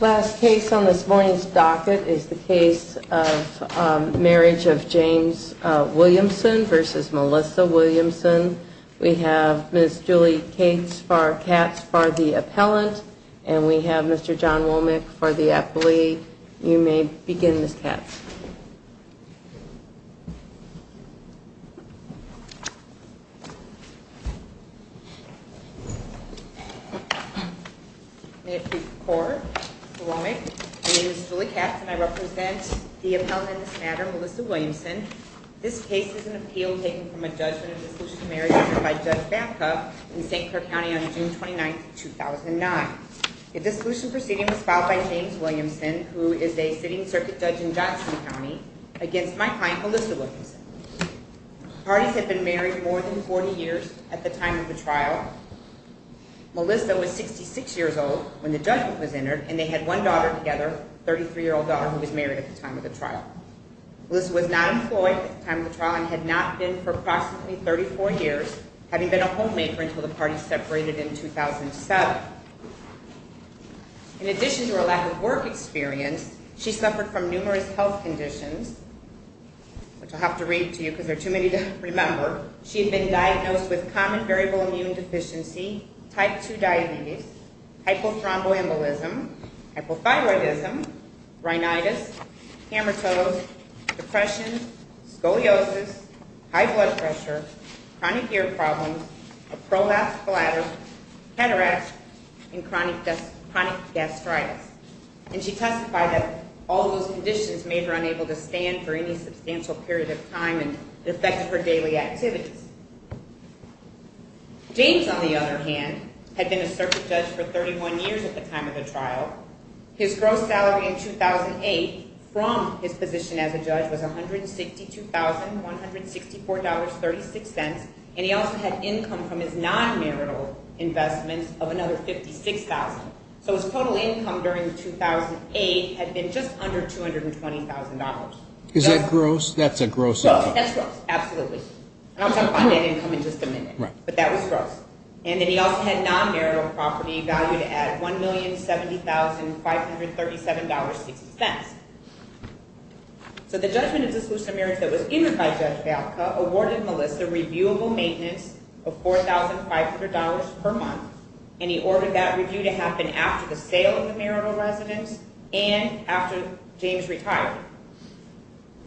Last case on this morning's docket is the case of Marriage of James Williamson versus Melissa Williamson. We have Ms. Julie Cates for Katz for the appellant, and we have Mr. John Womack for the appellee. You may begin, Ms. Katz. My name is Julie Katz, and I represent the appellant in this matter, Melissa Williamson. This case is an appeal taken from a judgment of dissolution marriage issued by Judge Babcock in St. Clair County on June 29, 2009. The dissolution proceeding was filed by James Williamson, who is a sitting circuit judge in Johnson County, against my client, Melissa Williamson. Parties had been married more than 40 years at the time of the trial. Melissa was 66 years old when the judgment was entered, and they had one daughter together, a 33-year-old daughter who was married at the time of the trial. Melissa was not employed at the time of the trial and had not been for approximately 34 years, having been a homemaker until the parties separated in 2007. In addition to her lack of work experience, she suffered from numerous health conditions, which I'll have to read to you because there are too many to remember. She had been diagnosed with common variable immune deficiency, type 2 diabetes, hypothromboembolism, hypothyroidism, rhinitis, hammertoes, depression, scoliosis, high blood pressure, chronic ear problems, a prolapsed bladder, cataracts, and chronic gastritis. And she testified that all those conditions made her unable to stand for any substantial period of time and affected her daily activities. James, on the other hand, had been a circuit judge for 31 years at the time of the trial. His gross salary in 2008 from his position as a judge was $162,164.36, and he also had income from his non-marital investments of another $56,000. So his total income during 2008 had been just under $220,000. Is that gross? That's a gross sum. That's gross, absolutely. I'll talk about that income in just a minute, but that was gross. And then he also had non-marital property valued at $1,070,537.60. So the judgment of dissolution of marriage that was given by Judge Valka awarded Melissa reviewable maintenance of $4,500 per month, and he ordered that review to happen after the sale of the marital residence and after James retired.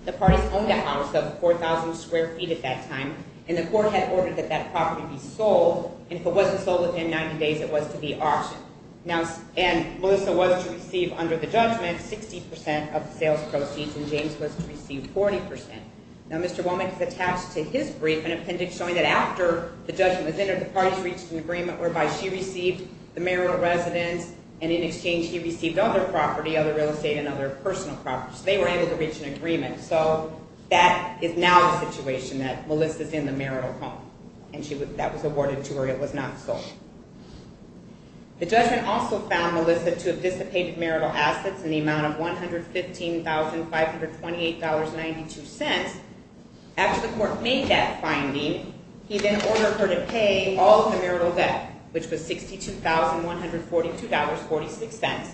The parties owned that house, that was 4,000 square feet at that time, and the court had ordered that that property be sold, and if it wasn't sold within 90 days, it was to be auctioned. And Melissa was to receive, under the judgment, 60% of the sales proceeds, and James was to receive 40%. Now, Mr. Womack has attached to his brief an appendix showing that after the judgment was entered, the parties reached an agreement whereby she received the marital residence, and in exchange, he received other property, other real estate and other personal properties. So they were able to reach an agreement. So that is now the situation, that Melissa's in the marital home, and that was awarded to her. It was not sold. The judgment also found Melissa to have dissipated marital assets in the amount of $115,528.92. After the court made that finding, he then ordered her to pay all of the marital debt, which was $62,142.46.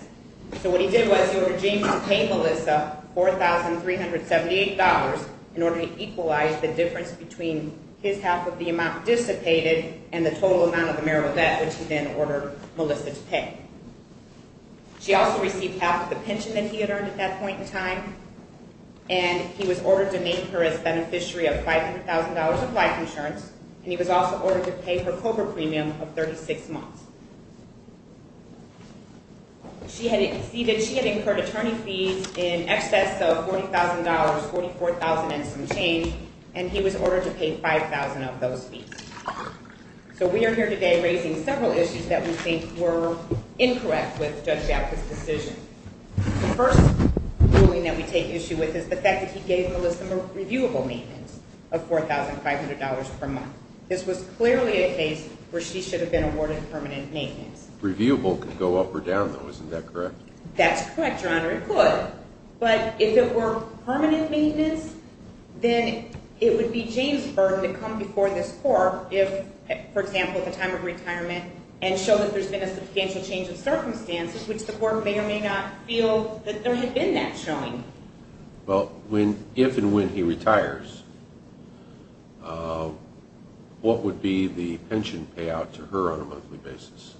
So what he did was he ordered James to pay Melissa $4,378 in order to equalize the difference between his half of the amount dissipated and the total amount of the marital debt, which he then ordered Melissa to pay. She also received half of the pension that he had earned at that point in time, and he was ordered to make her as beneficiary of $500,000 of life insurance, and he was also ordered to pay her COBRA premium of 36 months. She had incurred attorney fees in excess of $40,000, $44,000 and some change, and he was ordered to pay $5,000 of those fees. So we are here today raising several issues that we think were incorrect with Judge Gapka's decision. The first ruling that we take issue with is the fact that he gave Melissa a reviewable maintenance of $4,500 per month. This was clearly a case where she should have been awarded permanent maintenance. Reviewable could go up or down, though, isn't that correct? That's correct, Your Honor, it could. But if it were permanent maintenance, then it would be Jamesburg that come before this court, if, for example, at the time of retirement, and show that there's been a substantial change of circumstances, which the court may or may not feel that there had been that showing. Well, if and when he retires, what would be the pension payout to her on a monthly basis?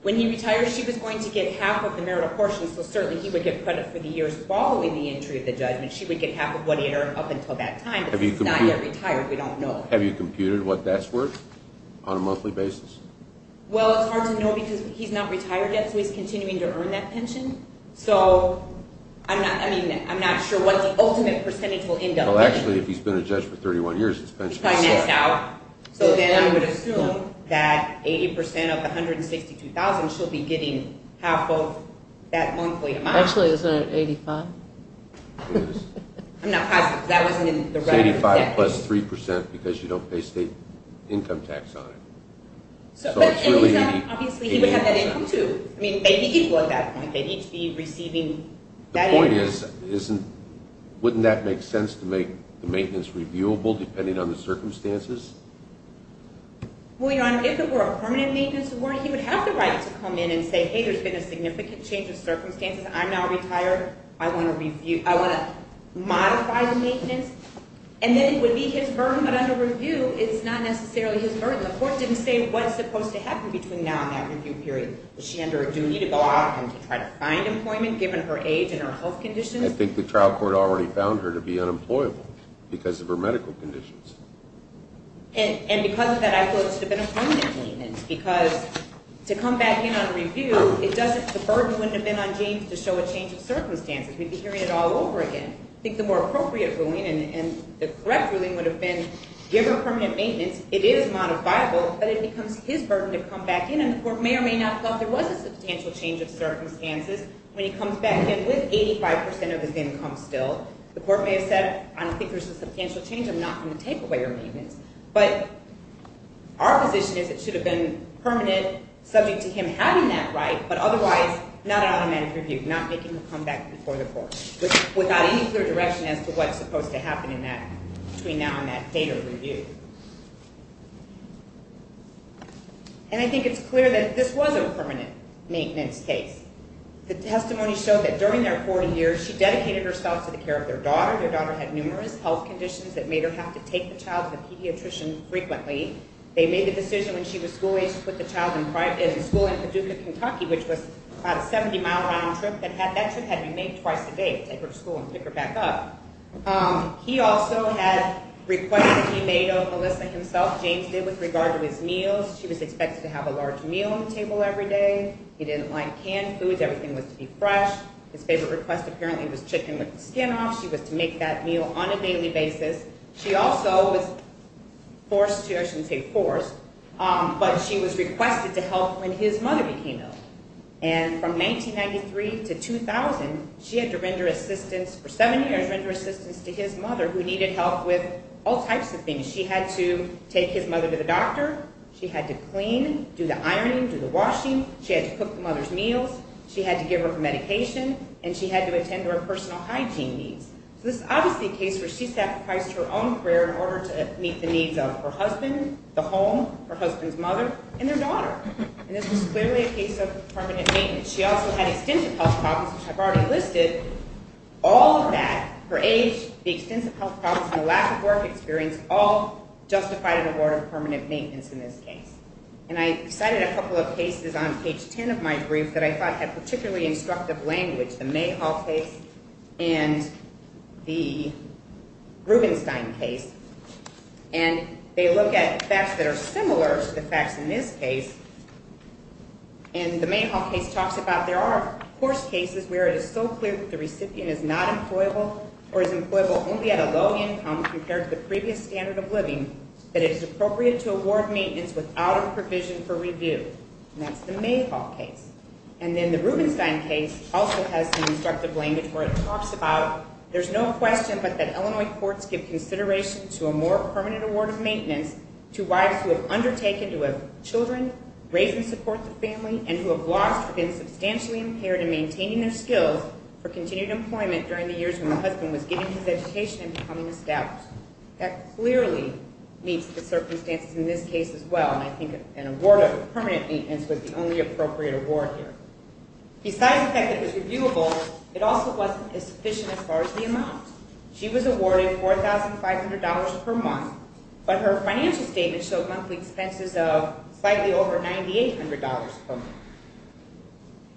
When he retires, she was going to get half of the marital portion, so certainly he would get credit for the years following the entry of the judgment. She would get half of what he earned up until that time, but since he's not yet retired, we don't know. Have you computed what that's worth on a monthly basis? Well, it's hard to know, because he's not retired yet, so he's continuing to earn that pension. So I'm not sure what the ultimate percentage will end up being. Well, actually, if he's been a judge for 31 years, he's probably missed out. So then I would assume that 80% of the $162,000, she'll be getting half of that monthly amount. Actually, isn't it 85%? I'm not positive, because that wasn't in the record. It's 85% plus 3%, because you don't pay state income tax on it. So it's really 85%. Obviously, he would have that income, too. I mean, they need to be receiving that income. The point is, wouldn't that make sense to make the maintenance reviewable, depending on the circumstances? Well, Your Honor, if it were a permanent maintenance award, he would have the right to come in and say, hey, there's been a significant change of circumstances. I'm now retired. I want to modify the maintenance. And then it would be his burden. But under review, it's not necessarily his burden. The court didn't say what's supposed to happen between now and that review period. Is she under a duty to go out and to try to find employment, given her age and her health conditions? I think the trial court already found her to be unemployable because of her medical conditions. And because of that, I feel it should have been a permanent maintenance, because to come back in on a review, the burden wouldn't have been on James to show a change of circumstances. We'd be hearing it all over again. I think the more appropriate ruling and the correct ruling would have been, given permanent maintenance, it is modifiable, but it becomes his burden to come back in. And the court may or may not have thought there was a substantial change of circumstances when he comes back in with 85% of his income still. The court may have said, I don't think there's a substantial change. I'm not going to take away your maintenance. But our position is it should have been permanent, subject to him having that right, but otherwise, not an automatic review, not making him come back before the court, without any clear direction as to what's supposed to happen between now and that date of review. And I think it's clear that this was a permanent maintenance case. The testimony showed that during their 40 years, she dedicated herself to the care of their daughter. Their daughter had numerous health conditions that made her have to take the child to the pediatrician frequently. They made the decision when she was school-age to put the child in private school in Paducah, Kentucky, which was about a 70-mile round trip. That trip had to be made twice a day, take her to school and pick her back up. He also had requests that he made of Melissa himself. James did with regard to his meals. She was expected to have a large meal on the table every day. He didn't like canned foods. Everything was to be fresh. His favorite request, apparently, was chicken with the skin off. She was to make that meal on a daily basis. She also was forced to, I shouldn't say forced, but she was requested to help when his mother became ill. And from 1993 to 2000, she had to render assistance for seven years, render assistance to his mother, who needed help with all types of things. She had to take his mother to the doctor. She had to clean, do the ironing, do the washing. She had to cook the mother's meals. She had to give her her medication. And she had to attend to her personal hygiene needs. So this is obviously a case where she sacrificed her own career in order to meet the needs of her husband, the home, her husband's mother, and their daughter. And this was clearly a case of permanent maintenance. She also had extensive health problems, which I've already listed. All of that, her age, the extensive health problems, and the lack of work experience, all justified an award of permanent maintenance in this case. And I cited a couple of cases on page 10 of my brief that I thought had particularly instructive language, the Mayhall case and the Rubenstein case. And they look at facts that are similar to the facts in this case. And the Mayhall case talks about, there are, of course, cases where it is so clear that the recipient is not employable or is employable only at a low income compared to the previous standard of living that it is appropriate to award maintenance without a provision for review. And that's the Mayhall case. And then the Rubenstein case also has some instructive language where it talks about, there's no question but that Illinois courts give consideration to a more permanent award of maintenance to wives who have undertaken to have children raised in support of the family and who have lost or been substantially impaired in maintaining their skills for continued employment during the years when the husband was getting his education and becoming established. That clearly meets the circumstances in this case as well. And I think an award of permanent maintenance was the only appropriate award here. Besides the fact that it was reviewable, it also wasn't sufficient as far as the amount. She was awarded $4,500 per month, but her financial statement showed monthly expenses of slightly over $9,800 per month.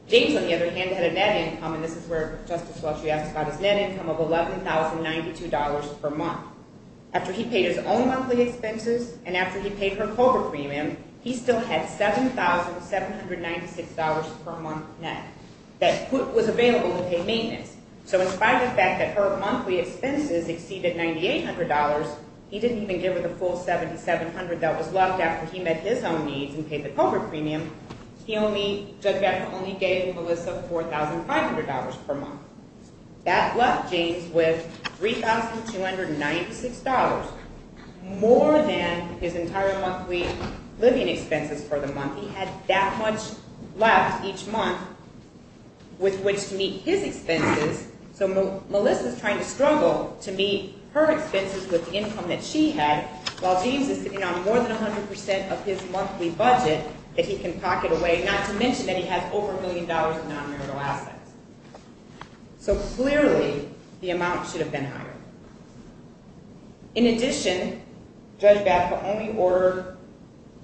James, on the other hand, had a net income, and this is where Justice Fletcher asked about his net income of $11,092 per month. After he paid his own monthly expenses and after he paid her COBRA premium, he still had $7,796 per month net that was available to pay maintenance. So in spite of the fact that her monthly expenses exceeded $9,800, he didn't even give her the full $7,700 that was left after he met his own needs and paid the COBRA premium, Judge Becker only gave Melissa $4,500 per month. That left James with $3,296, more than his entire monthly living expenses for the month. He had that much left each month with which to meet his expenses, so Melissa's trying to struggle to meet her expenses with the income that she had, while James is sitting on more than 100% of his monthly budget that he can pocket away, not to mention that he has over a million dollars in non-marital assets. So clearly, the amount should have been higher. In addition, Judge Becker only ordered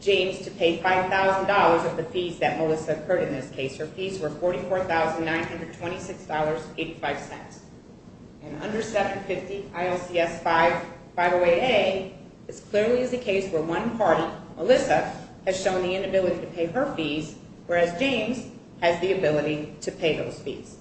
James to pay $5,000 of the fees that Melissa incurred in this case. Her fees were $44,926.85. And under 750 ILCS 508A, this clearly is a case where one party, Melissa, has shown the inability to pay her fees, whereas James has the ability to pay those fees.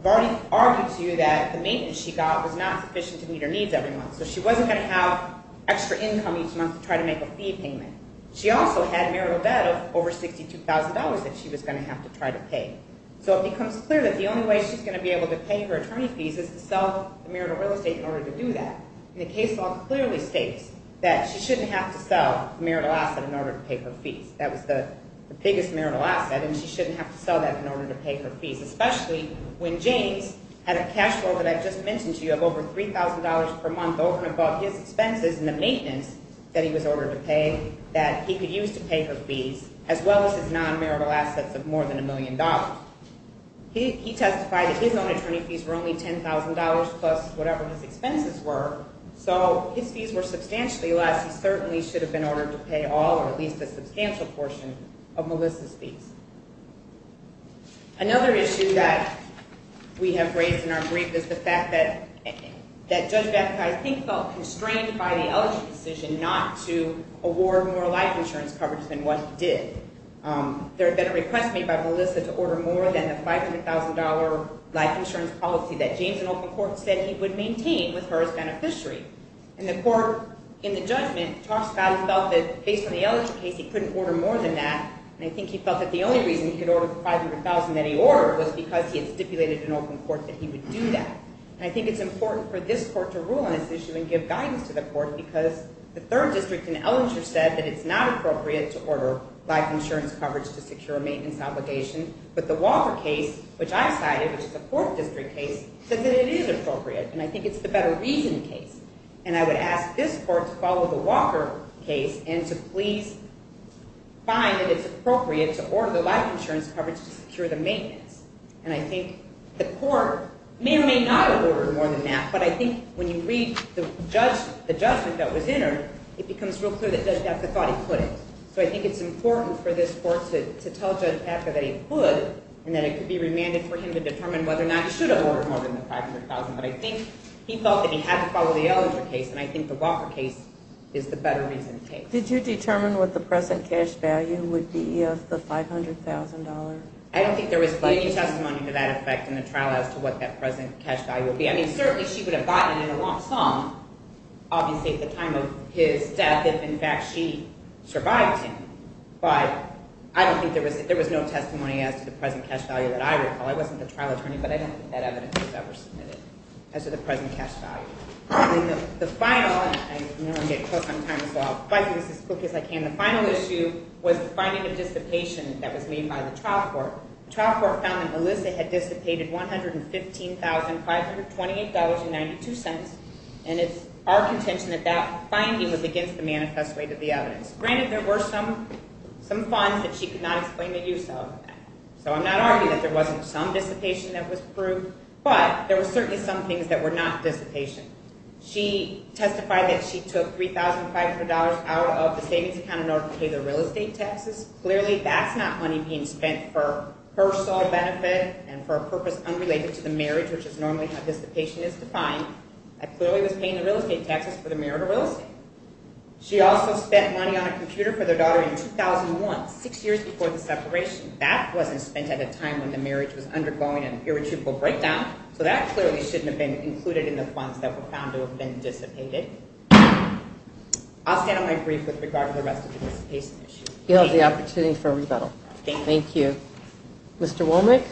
I've already argued to you that the maintenance she got was not sufficient to meet her needs every month, so she wasn't gonna have extra income each month to try to make a fee payment. She also had marital debt of over $62,000 that she was gonna have to try to pay. So it becomes clear that the only way she's gonna be able to pay her attorney fees is to sell the marital real estate in order to do that. And the case law clearly states that she shouldn't have to sell marital asset in order to pay her fees. That was the biggest marital asset, and she shouldn't have to sell that in order to pay her fees, especially when James had a cash flow that I've just mentioned to you of over $3,000 per month over and above his expenses and the maintenance that he was ordered to pay that he could use to pay her fees, as well as his non-marital assets of more than a million dollars. He testified that his own attorney fees were only $10,000 plus whatever his expenses were, so his fees were substantially less. He certainly should have been ordered to pay all or at least a substantial portion of Melissa's fees. Another issue that we have raised in our brief is the fact that Judge Vathakai, I think, felt constrained by the Elegy decision not to award more life insurance coverage than what he did. There had been a request made by Melissa to order more than the $500,000 life insurance policy that James in open court said he would maintain with her as beneficiary. And the court in the judgment talks about he felt that based on the Elegy case, he couldn't order more than that, and I think he felt that the only reason he could order the $500,000 that he ordered was because he had stipulated in open court that he would do that. And I think it's important for this court to rule on this issue and give guidance to the court because the third district in Ellinger said that it's not appropriate to order life insurance coverage to secure a maintenance obligation, but the Walker case, which I cited, which is a fourth district case, says that it is appropriate, and I think it's the better reason case. And I would ask this court to follow the Walker case and to please find that it's appropriate to order the life insurance coverage to secure the maintenance. And I think the court may or may not order more than that, but I think when you read the judgment that was entered, it becomes real clear that Judge Gaffer thought he could. So I think it's important for this court to tell Judge Gaffer that he could and that it could be remanded for him to determine whether or not he should have ordered more than the $500,000. But I think he felt that he had to follow the Ellinger case, and I think the Walker case is the better reason case. Did you determine what the present cash value would be of the $500,000? I don't think there was any testimony to that effect in the trial as to what that present cash value would be. I mean, certainly she would have gotten it in a long song, obviously at the time of his death, if in fact she survived him. But I don't think there was, there was no testimony as to the present cash value that I recall. I wasn't the trial attorney, but I don't think that evidence was ever submitted as to the present cash value. The final, and I know I'm getting close on time as well, but I'll do this as quick as I can. The final issue was the finding of dissipation that was made by the trial court. Trial court found that Melissa had dissipated $115,528.92, and it's our contention that that finding was against the manifest way to the evidence. Granted, there were some funds that she could not explain the use of. So I'm not arguing that there wasn't some dissipation that was proved, but there were certainly some things that were not dissipation. She testified that she took $3,500 out of the savings account in order to pay the real estate taxes. Clearly, that's not money being spent for her sole benefit and for a purpose unrelated to the marriage, which is normally how dissipation is defined. I clearly was paying the real estate taxes for the merit of real estate. She also spent money on a computer for their daughter in 2001, six years before the separation. That wasn't spent at a time when the marriage was undergoing an irretrievable breakdown. So that clearly shouldn't have been included in the funds that were found to have been dissipated. I'll stand on my brief with regard to the rest of the dissipation issue. You have the opportunity for a rebuttal. Thank you. Mr. Womack?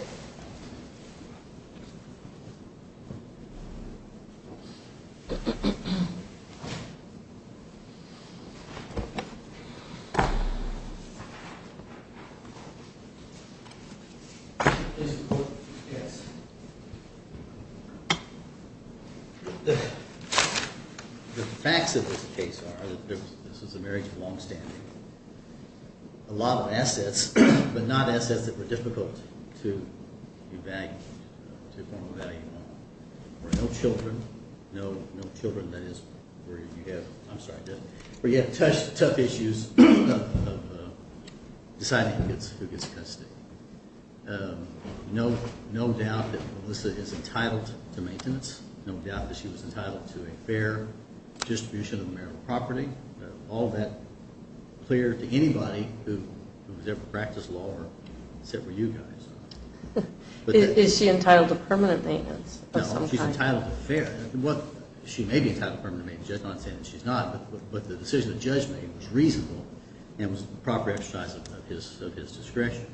The facts of this case are that this is a marriage of longstanding. A lot of assets, but not assets that were difficult to evaluate, to form a value model. Where no children, no children, that is, where you have, I'm sorry, where you have tough issues deciding who gets custody. No doubt that Melissa is entitled to maintenance. No doubt that she was entitled to a fair distribution of marital property. All that clear to anybody who's ever practiced law, except for you guys. Is she entitled to permanent maintenance? No, she's entitled to fair. She may be entitled to permanent maintenance, the judge might say that she's not, but the decision the judge made was reasonable and was the proper exercise of his discretion.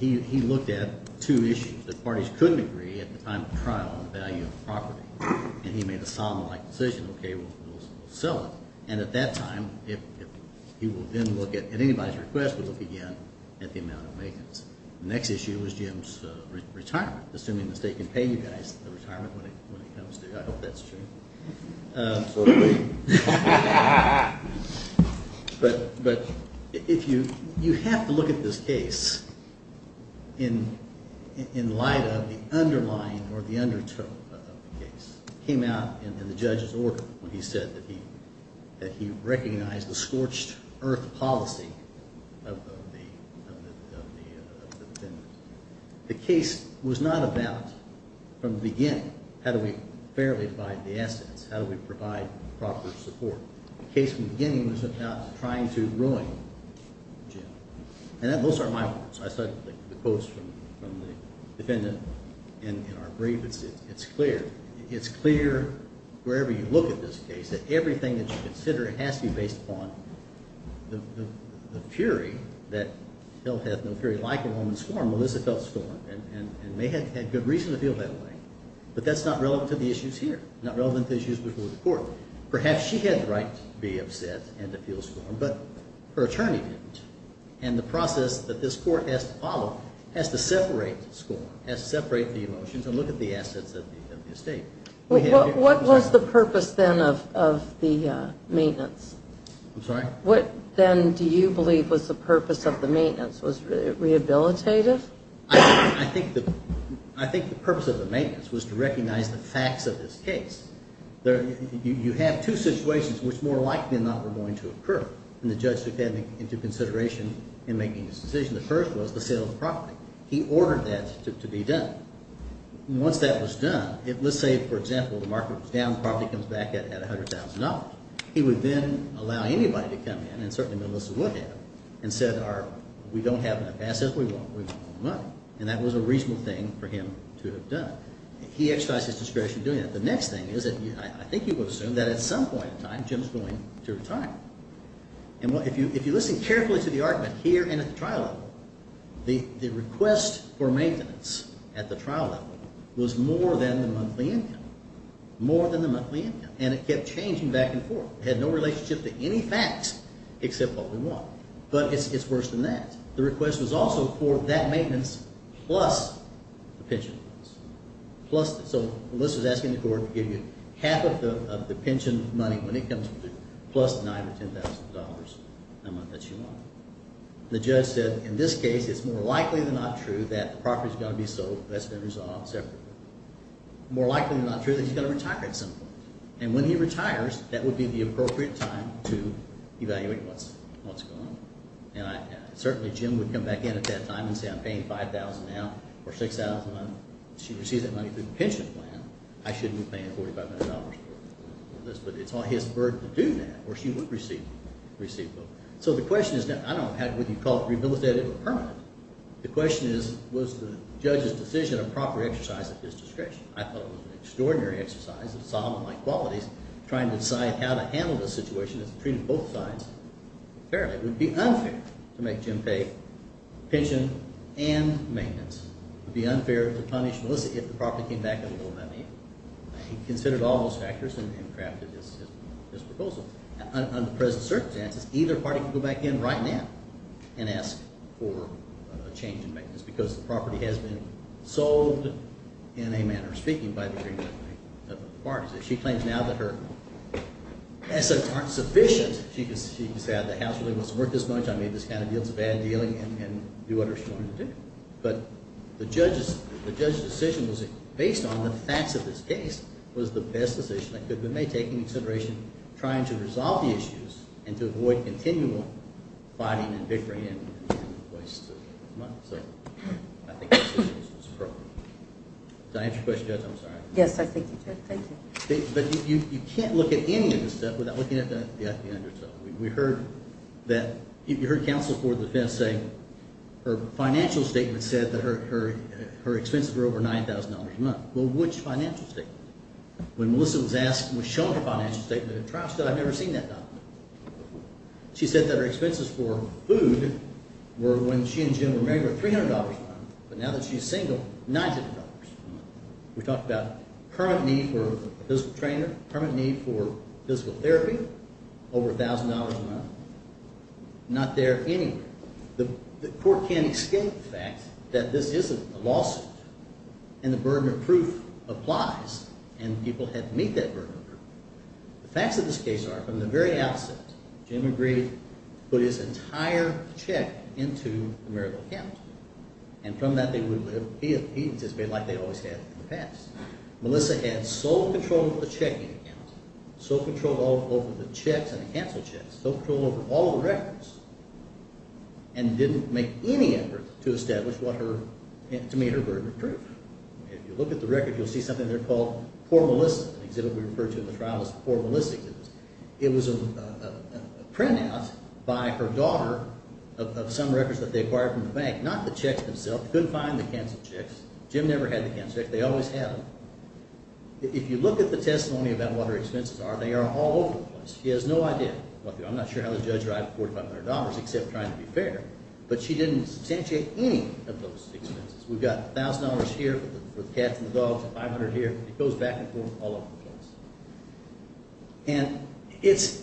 He looked at two issues that parties couldn't agree at the time of trial on the value of the property, and he made a solemn-like decision. Okay, we'll sell it, and at that time, if he will then look at anybody's request, we'll look again at the amount of maintenance. Next issue was Jim's retirement, assuming the state can pay you guys the retirement when it comes to, I hope that's true. Absolutely. Ha ha ha ha ha. But if you, you have to look at this case in light of the underlying or the undertone of the case. Came out in the judge's order when he said that he recognized the scorched-earth policy of the defendant. The case was not about, from the beginning, how do we fairly divide the assets? How do we provide proper support? The case from the beginning was about trying to ruin Jim, and those aren't my words. I cited the quotes from the defendant in our brief. It's clear, it's clear wherever you look at this case that everything that you consider has to be based upon the fury that felt, hath no fury, like a woman's form, Melissa felt stormed, and may have had good reason to feel that way, but that's not relevant to the issues here, not relevant to the issues before the court. Perhaps she had the right to be upset and to feel stormed, but her attorney didn't, and the process that this court has to follow has to separate the storm, has to separate the emotions, and look at the assets of the estate. What was the purpose, then, of the maintenance? I'm sorry? What, then, do you believe was the purpose of the maintenance? Was it rehabilitative? I think the purpose of the maintenance was to recognize the facts of this case. You have two situations which, more likely than not, were going to occur, and the judge took that into consideration in making his decision. The first was the sale of the property. He ordered that to be done. Once that was done, let's say, for example, the market was down, the property comes back at $100,000. He would then allow anybody to come in, and certainly Melissa would have, and said, we don't have enough assets, we want money. And that was a reasonable thing for him to have done. He exercised his discretion doing that. The next thing is that, I think you would assume that at some point in time, Jim's going to retire. And if you listen carefully to the argument here and at the trial level, the request for maintenance at the trial level was more than the monthly income, more than the monthly income. And it kept changing back and forth. It had no relationship to any facts except what we want. But it's worse than that. The request was also for that maintenance plus the pension. So Melissa's asking the court to give you half of the pension money when it comes to it, the $5,000 to $10,000 amount that you want. The judge said, in this case, it's more likely than not true that the property's going to be sold. That's been resolved separately. More likely than not true that he's going to retire at some point. And when he retires, that would be the appropriate time to evaluate what's going on. And certainly Jim would come back in at that time and say, I'm paying $5,000 now, or $6,000. She receives that money through the pension plan. I shouldn't be paying $45,000 for this. But it's on his bird to do that, or she would receive it. So the question is, I don't have what you call rehabilitative or permanent. The question is, was the judge's decision a proper exercise of his discretion? I thought it was an extraordinary exercise of Solomon-like qualities, trying to decide how to handle the situation that's treated both sides fairly. It would be unfair to make Jim pay pension and maintenance. It would be unfair to punish Melissa if the property came back in a little money. He considered all those factors and crafted his proposal. Under present circumstances, either party could go back in right now and ask for a change in maintenance, because the property has been sold, in a manner of speaking, by the Green Party. She claims now that her assets aren't sufficient. She could say, the house really wasn't worth this much. I mean, this kind of deal's a bad deal. And do what she wanted to do. But the judge's decision was based on the facts of this case, was the best decision that could be made, taking into consideration trying to resolve the issues, and to avoid continual fighting and bickering and waste of money. So I think the decision was appropriate. Did I answer your question, Judge? I'm sorry. Yes, I think you did. Thank you. But you can't look at any of this stuff without looking at the underdog. her financial statement said that her expenses were over $9,000 a month. Well, which financial statement? When Melissa was shown her financial statement at trial, she said, I've never seen that document. She said that her expenses for food were, when she and Jim were married, were $300 a month. But now that she's single, $900 a month. We talked about current need for a physical trainer, current need for physical therapy, over $1,000 a month. Not there anywhere. The court can't escape the fact that this isn't a lawsuit. And the burden of proof applies. And people had to meet that burden of proof. The facts of this case are, from the very outset, Jim agreed to put his entire check into the marital account. And from that, they would have been like they always had in the past. Melissa had sole control of the checking account, sole control over the checks and the canceled checks, sole control over all the records, and didn't make any effort to establish to meet her burden of proof. If you look at the record, you'll see something there called poor Melissa, an exhibit we refer to in the trial as poor Melissa exhibit. It was a printout by her daughter of some records that they acquired from the bank. Not the checks themselves. Couldn't find the canceled checks. Jim never had the canceled checks. They always had them. If you look at the testimony about what her expenses are, they are all over the place. She has no idea. I'm not sure how the judge arrived at $4,500 except trying to be fair. But she didn't substantiate any of those expenses. We've got $1,000 here for the cats and the dogs, and $500 here. It goes back and forth all over the place.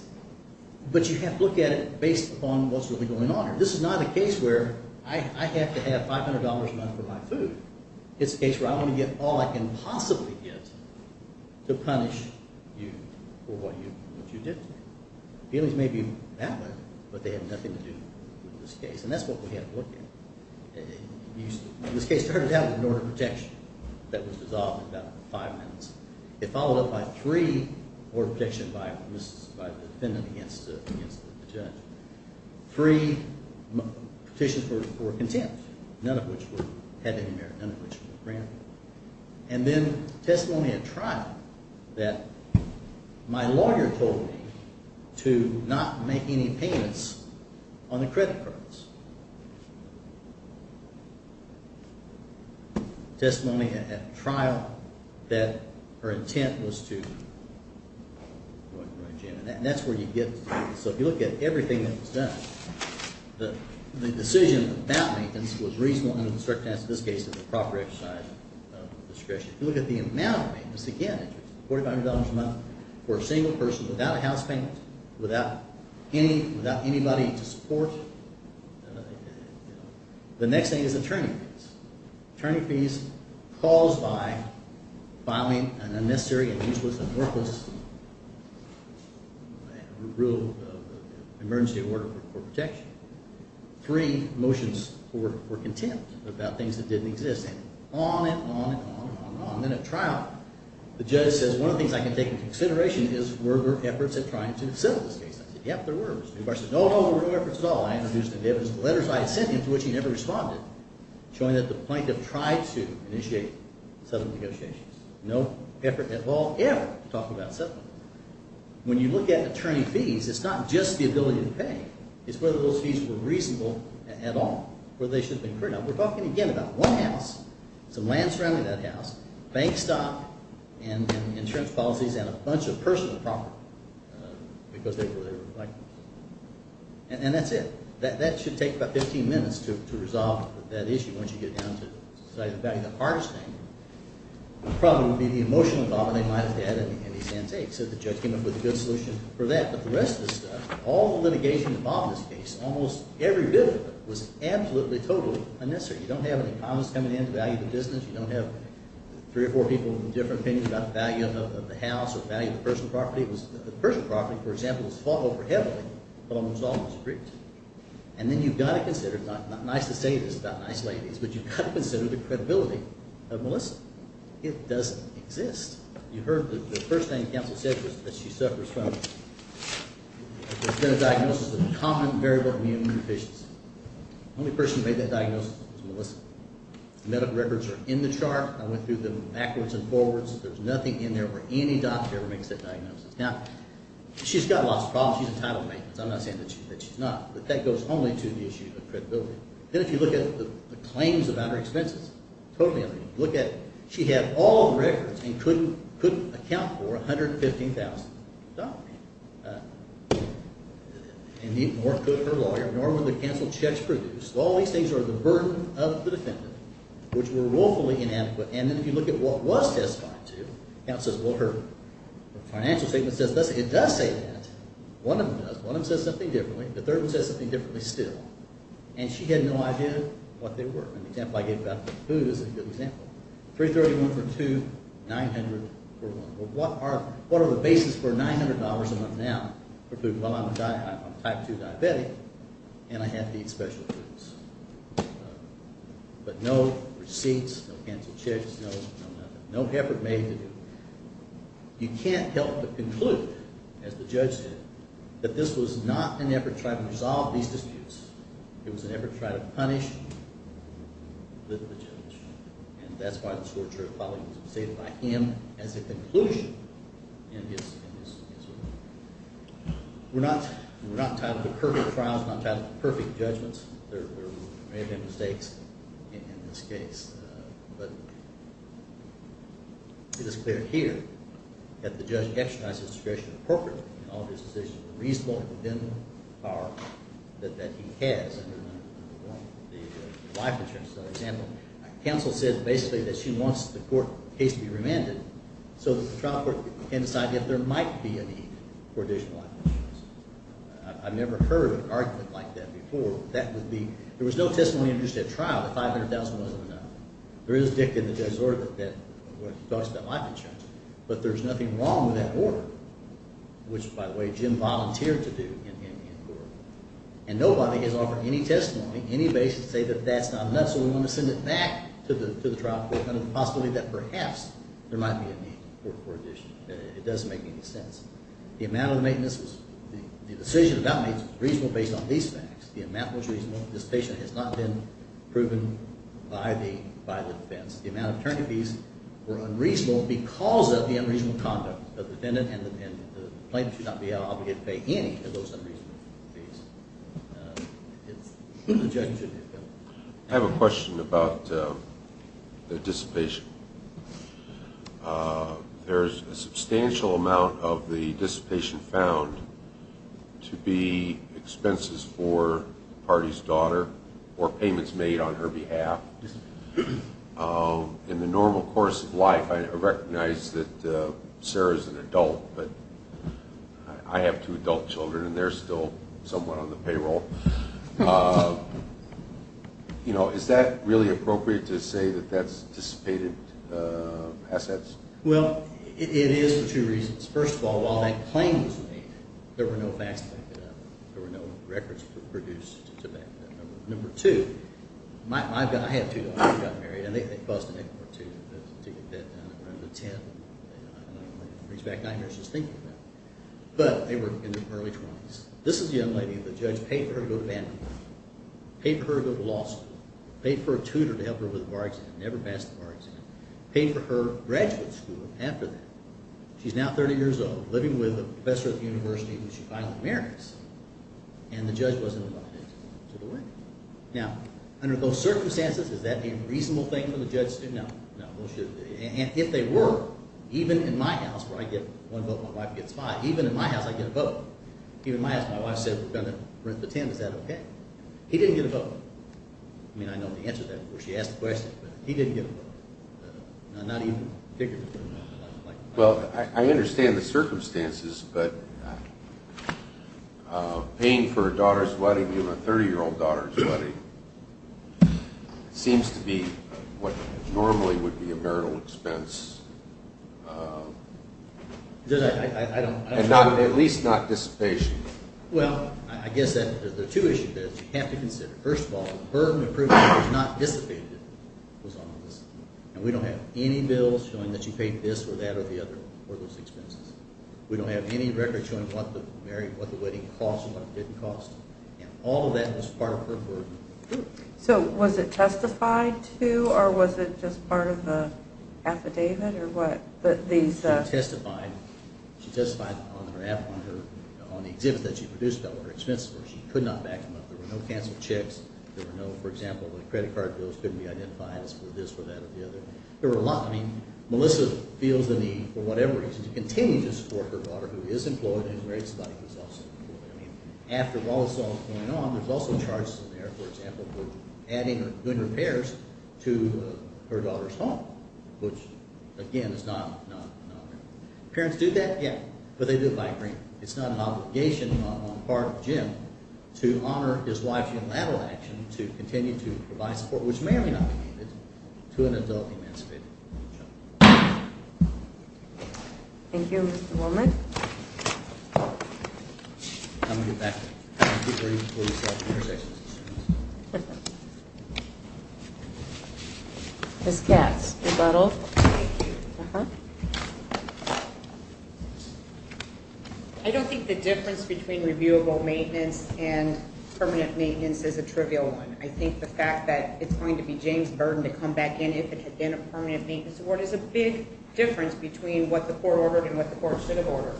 But you have to look at it based upon what's really going on. This is not a case where I have to have $500 a month for my food. It's a case where I want to get all I can possibly get to punish you for what you did to me. Feelings may be valid, but they have nothing to do with this case. And that's what we have to look at. This case started out with an order of protection that was dissolved in about five minutes. It followed up by three order of protection by the defendant against the judge. Three petitions for contempt, none of which had any merit, none of which were granted. And then testimony at trial that my lawyer told me to not make any payments on the credit cards. Testimony at trial that her intent was to go to a gym. And that's where you get to do this. So if you look at everything that was done, the decision about maintenance was reasonable and was a strict test. In this case, it's a proper exercise of discretion. If you look at the amount of maintenance, again, $4,500 a month for a single person without a house payment, without anybody to support, the next thing is attorney fees. Attorney fees caused by filing an unnecessary and useless and worthless rule of emergency order for protection. Three motions for contempt about things that didn't exist. On and on and on and on. And then at trial, the judge says, one of the things I can take into consideration is were there efforts at trying to settle this case. I said, yep, there were. The bar said, no, no, no efforts at all. I introduced the evidence, the letters I had sent him to which he never responded, showing that the plaintiff tried to initiate settlement negotiations. No effort at all ever to talk about settlement. When you look at attorney fees, it's not just the ability to pay. It's whether those fees were reasonable at all, whether they should have been cleared. Now, we're talking, again, about one house, some land surrounding that house, bank stock, and insurance policies, and a bunch of personal property because they were like this. And that's it. That should take about 15 minutes to resolve that issue once you get down to deciding the value of the hardest thing. The problem would be the emotional problem. They might have to add any sand takes. So the judge came up with a good solution for that. But the rest of the stuff, all the litigation involved in this case, almost every bit of it was absolutely, totally unnecessary. You don't have an economist coming in to value the business. You don't have three or four people with different opinions about the value of the house or the value of the personal property. It was the personal property, for example, was fought over heavily, but almost always agreed to. And then you've got to consider, not nice to say this, not nice ladies, but you've got to consider the credibility of Melissa. It doesn't exist. You heard the first thing the counsel said was that she suffers from a diagnosis of common variable immune deficiency. The only person who made that diagnosis was Melissa. The medical records are in the chart. I went through them backwards and forwards. There's nothing in there where any doctor ever makes that diagnosis. Now, she's got lots of problems. She's entitled to maintenance. I'm not saying that she's not, but that goes only to the issue of credibility. Then if you look at the claims of under-expenses, totally under-expenses. You look at, she had all the records and couldn't account for $115,000. And even more could her lawyer. Nor would the counsel checks produce. All these things are the burden of the defendant, which were woefully inadequate. And then if you look at what was testified to, counsel says, well, her financial statement says this. It does say that. One of them does. One of them says something differently. The third one says something differently still. And she had no idea what they were. An example I gave back to you. Who is a good example? 331 for two, 900 for one. Well, what are the basis for $900 a month now? For food, well, I'm a type two diabetic and I have to eat special foods. But no receipts, no counsel checks, no nothing. No effort made to do it. You can't help but conclude, as the judge did, that this was not an effort to try to resolve these disputes. It was an effort to try to punish the judge. And that's why the torturer probably was upset by him as a conclusion in his ruling. We're not tied to perfect trials. We're not tied to perfect judgments. There may have been mistakes in this case. But it is clear here that the judge exercised his discretion appropriately in all of his decisions, reasonable and within the power that he has under the life insurance example. Counsel said, basically, that she wants the court case to be remanded so that the trial court can decide if there might be a need for additional life insurance. I've never heard an argument like that before. There was no testimony introduced at trial that $500,000 wasn't enough. There is dicta in the judge's order that talks about life insurance. But there's nothing wrong with that order, which, by the way, Jim volunteered to do in court. And nobody has offered any testimony, any basis to say that that's not enough. So we want to send it back to the trial court under the possibility that perhaps there doesn't make any sense. The amount of the maintenance was, the decision about maintenance was reasonable based on these facts. The amount was reasonable. Dissipation has not been proven by the defense. The amount of attorney fees were unreasonable because of the unreasonable conduct of the defendant. And the plaintiff should not be obligated to pay any of those unreasonable fees. It's the judge's decision. I have a question about the dissipation. There's a substantial amount of the dissipation found to be expenses for the party's daughter or payments made on her behalf. In the normal course of life, I recognize that Sarah's an adult, but I have two adult children, and they're still somewhat on the payroll. Is that really appropriate to say that that's dissipated assets? Well, it is for two reasons. First of all, while that claim was made, there were no facts to back that up. There were no records produced to back that up. Number two, I had two daughters who got married, and they buzzed an 8-4-2 to get that done at one of the tents. And I don't want to bring back nightmares just thinking about it. But they were in their early 20s. This is the young lady that the judge paid for her to go to Vanderbilt, paid for her to go to law school, paid for a tutor to help her with a bar exam, never passed the bar exam, paid for her graduate school after that. She's now 30 years old, living with a professor at the university who she finally marries. And the judge wasn't allowed to go to the wedding. Now, under those circumstances, is that a reasonable thing for the judge to do? No, no, it shouldn't be. And if they were, even in my house, where I get one vote, my wife gets five, even in my house, I get a vote. Even in my house, my wife said, we're going to rent the tent. Is that OK? He didn't get a vote. I mean, I know the answer to that. Of course, she asked the question. But he didn't get a vote. Not even particularly. Well, I understand the circumstances. But paying for a daughter's wedding, even a 30-year-old daughter's wedding, seems to be what normally would be a marital expense. At least not dissipation. Well, I guess there are two issues that you have to consider. First of all, the burden of proving that it was not dissipated was on us. And we don't have any bills showing that she paid this or that or the other, or those expenses. We don't have any records showing what the wedding cost and what it didn't cost. All of that was part of her burden. So was it testified to? Or was it just part of the affidavit? Or what? But these, uh. She testified. She testified on the exhibit that she produced about what her expenses were. She could not back them up. There were no canceled checks. There were no, for example, credit card bills couldn't be identified as this or that or the other. There were a lot. Melissa feels the need, for whatever reason, to continue to support her daughter, who is employed and is married to somebody who is also employed. After all this all is going on, there's also charges in there, for example, for adding or doing repairs to her daughter's home, which, again, is not an honor. Parents do that? Yeah. But they do it by agreement. It's not an obligation on the part of Jim to honor his wife's unilateral action to continue to provide support, which may or may not be needed, to an adult emancipated woman. Thank you, Mr. Willman. I'm going to get back to you. Keep reading before you start your intersections. OK. Ms. Katz, rebuttal. Thank you. Uh-huh. I don't think the difference between reviewable maintenance and permanent maintenance is a trivial one. I think the fact that it's going to be James' burden to come back in if it had been a permanent maintenance award is a big difference between what the court ordered and what the court should have ordered.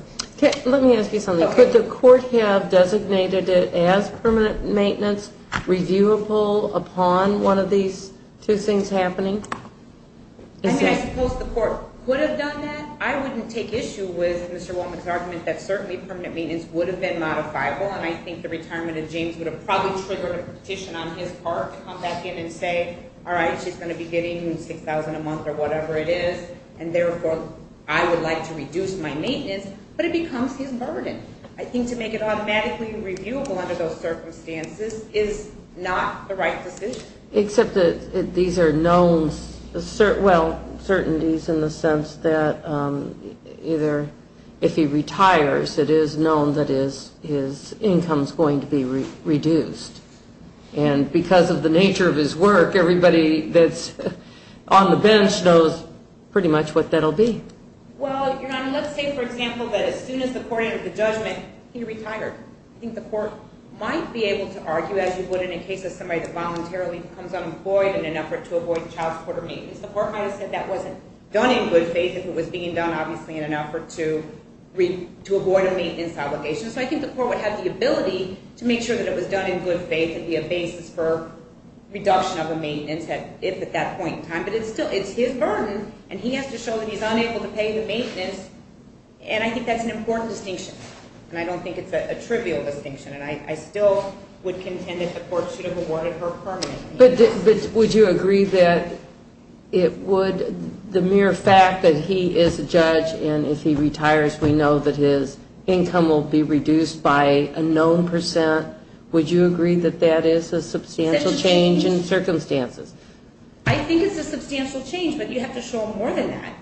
Let me ask you something. Could the court have designated it as permanent maintenance, reviewable upon one of these two things happening? I suppose the court would have done that. I wouldn't take issue with Mr. Willman's argument that certainly permanent maintenance would have been modifiable, and I think the retirement of James would have probably triggered a petition on his part to come back in and say, all right, she's going to be getting $6,000 a month or whatever it is, and therefore, I would like to reduce my maintenance. But it becomes his burden. I think to make it automatically reviewable under those circumstances is not the right decision. Except that these are known certainties in the sense that either if he retires, it is known that his income's going to be reduced. And because of the nature of his work, everybody that's on the bench knows pretty much what that'll be. Well, Your Honor, let's say, for example, that as soon as the court entered the judgment, he retired. I think the court might be able to argue, as you would in a case of somebody that voluntarily becomes unemployed in an effort to avoid child support or maintenance. The court might have said that wasn't done in good faith if it was being done, obviously, in an effort to avoid a maintenance obligation. So I think the court would have the ability to make sure that it was done in good faith and be a basis for reduction of a maintenance if at that point in time. But it's still his burden. And he has to show that he's unable to pay the maintenance. And I think that's an important distinction. And I don't think it's a trivial distinction. And I still would contend that the court should have awarded her permanent maintenance. Would you agree that it would, the mere fact that he is a judge, and if he retires, we know that his income will be reduced by a known percent, would you agree that that is a substantial change in circumstances? I think it's a substantial change. But you have to show more than that.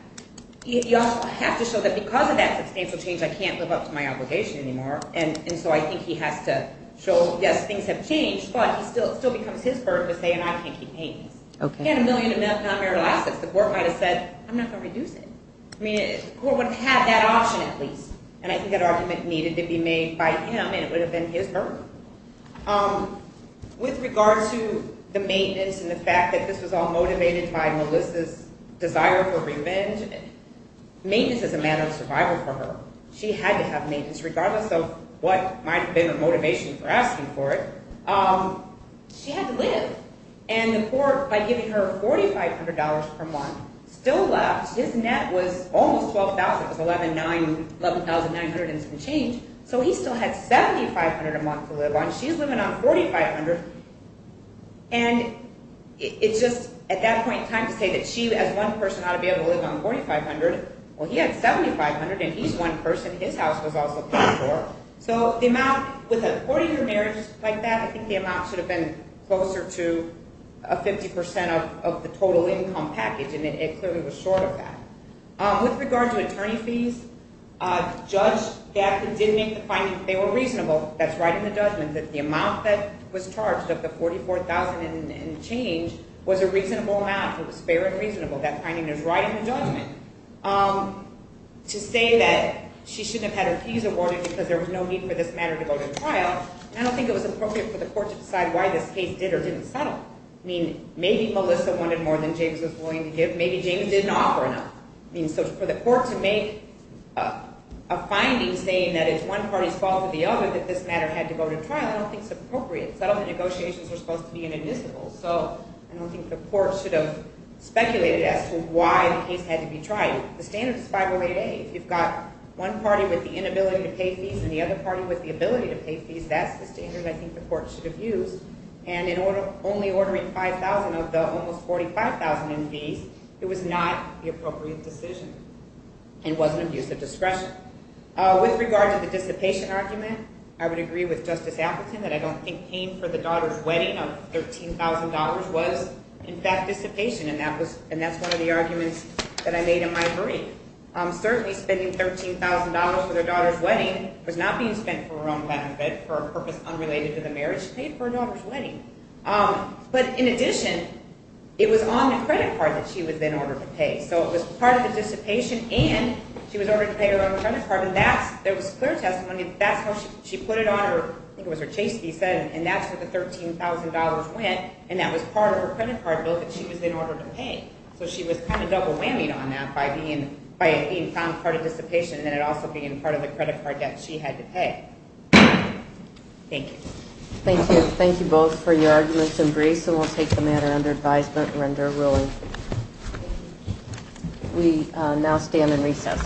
You also have to show that because of that substantial change, I can't live up to my obligation anymore. And so I think he has to show, yes, things have changed. But it still becomes his burden to say, and I can't keep maintenance. He had a million in non-marital assets. The court might have said, I'm not going to reduce it. I mean, the court would have had that option at least. And I think that argument needed to be made by him. And it would have been his burden. With regard to the maintenance and the fact that this was all motivated by Melissa's desire for revenge, maintenance is a matter of survival for her. She had to have maintenance regardless of what might have been the motivation for asking for it. She had to live. And the court, by giving her $4,500 per month, still left. His net was almost $12,000. It was $11,900 and some change. So he still had $7,500 a month to live on. She's living on $4,500. And it's just, at that point in time, to say that she as one person ought to be able to live on $4,500. Well, he had $7,500, and he's one person. His house was also quite short. So the amount, with a 40-year marriage like that, I think the amount should have been closer to a 50% of the total income package. And it clearly was short of that. With regard to attorney fees, Judge Gaffney did make the finding that they were reasonable. That's right in the judgment that the amount that was charged of the $44,000 and change was a reasonable amount. It was fair and reasonable. That finding is right in the judgment. To say that she shouldn't have had her fees awarded because there was no need for this matter to go to trial, I don't think it was appropriate for the court to decide why this case did or didn't settle. Maybe Melissa wanted more than James was willing to give. Maybe James didn't offer enough. So for the court to make a finding saying that it's one party's fault or the other that this matter had to go to trial, I don't think it's appropriate. Settlement negotiations were supposed to be inadmissible. So I don't think the court should have speculated as to why the case had to be tried. The standard is 508A. If you've got one party with the inability to pay fees and the other party with the ability to pay fees, that's the standard I think the court should have used. And in only ordering $5,000 of the almost $45,000 in fees, it was not the appropriate decision and wasn't abuse of discretion. With regard to the dissipation argument, I would agree with Justice Appleton that I don't think paying for the daughter's wedding of $13,000 was, in fact, dissipation. And that's one of the arguments that I made in my brief. Certainly, spending $13,000 for their daughter's wedding was not being spent for her own benefit, for a purpose unrelated to the marriage. She paid for her daughter's wedding. But in addition, it was on the credit card that she was then ordered to pay. So it was part of the dissipation. And she was ordered to pay her own credit card. And there was clear testimony that that's how she put it on her, I think it was her chastity set. And that's where the $13,000 went. And that was part of her credit card bill that she was then ordered to pay. So she was kind of double whammy on that by it being found part of dissipation and it also being part of the credit card debt she had to pay. Thank you. Thank you. Thank you both for your arguments and briefs. And we'll take the matter under advisement or under a ruling. We now stand in recess.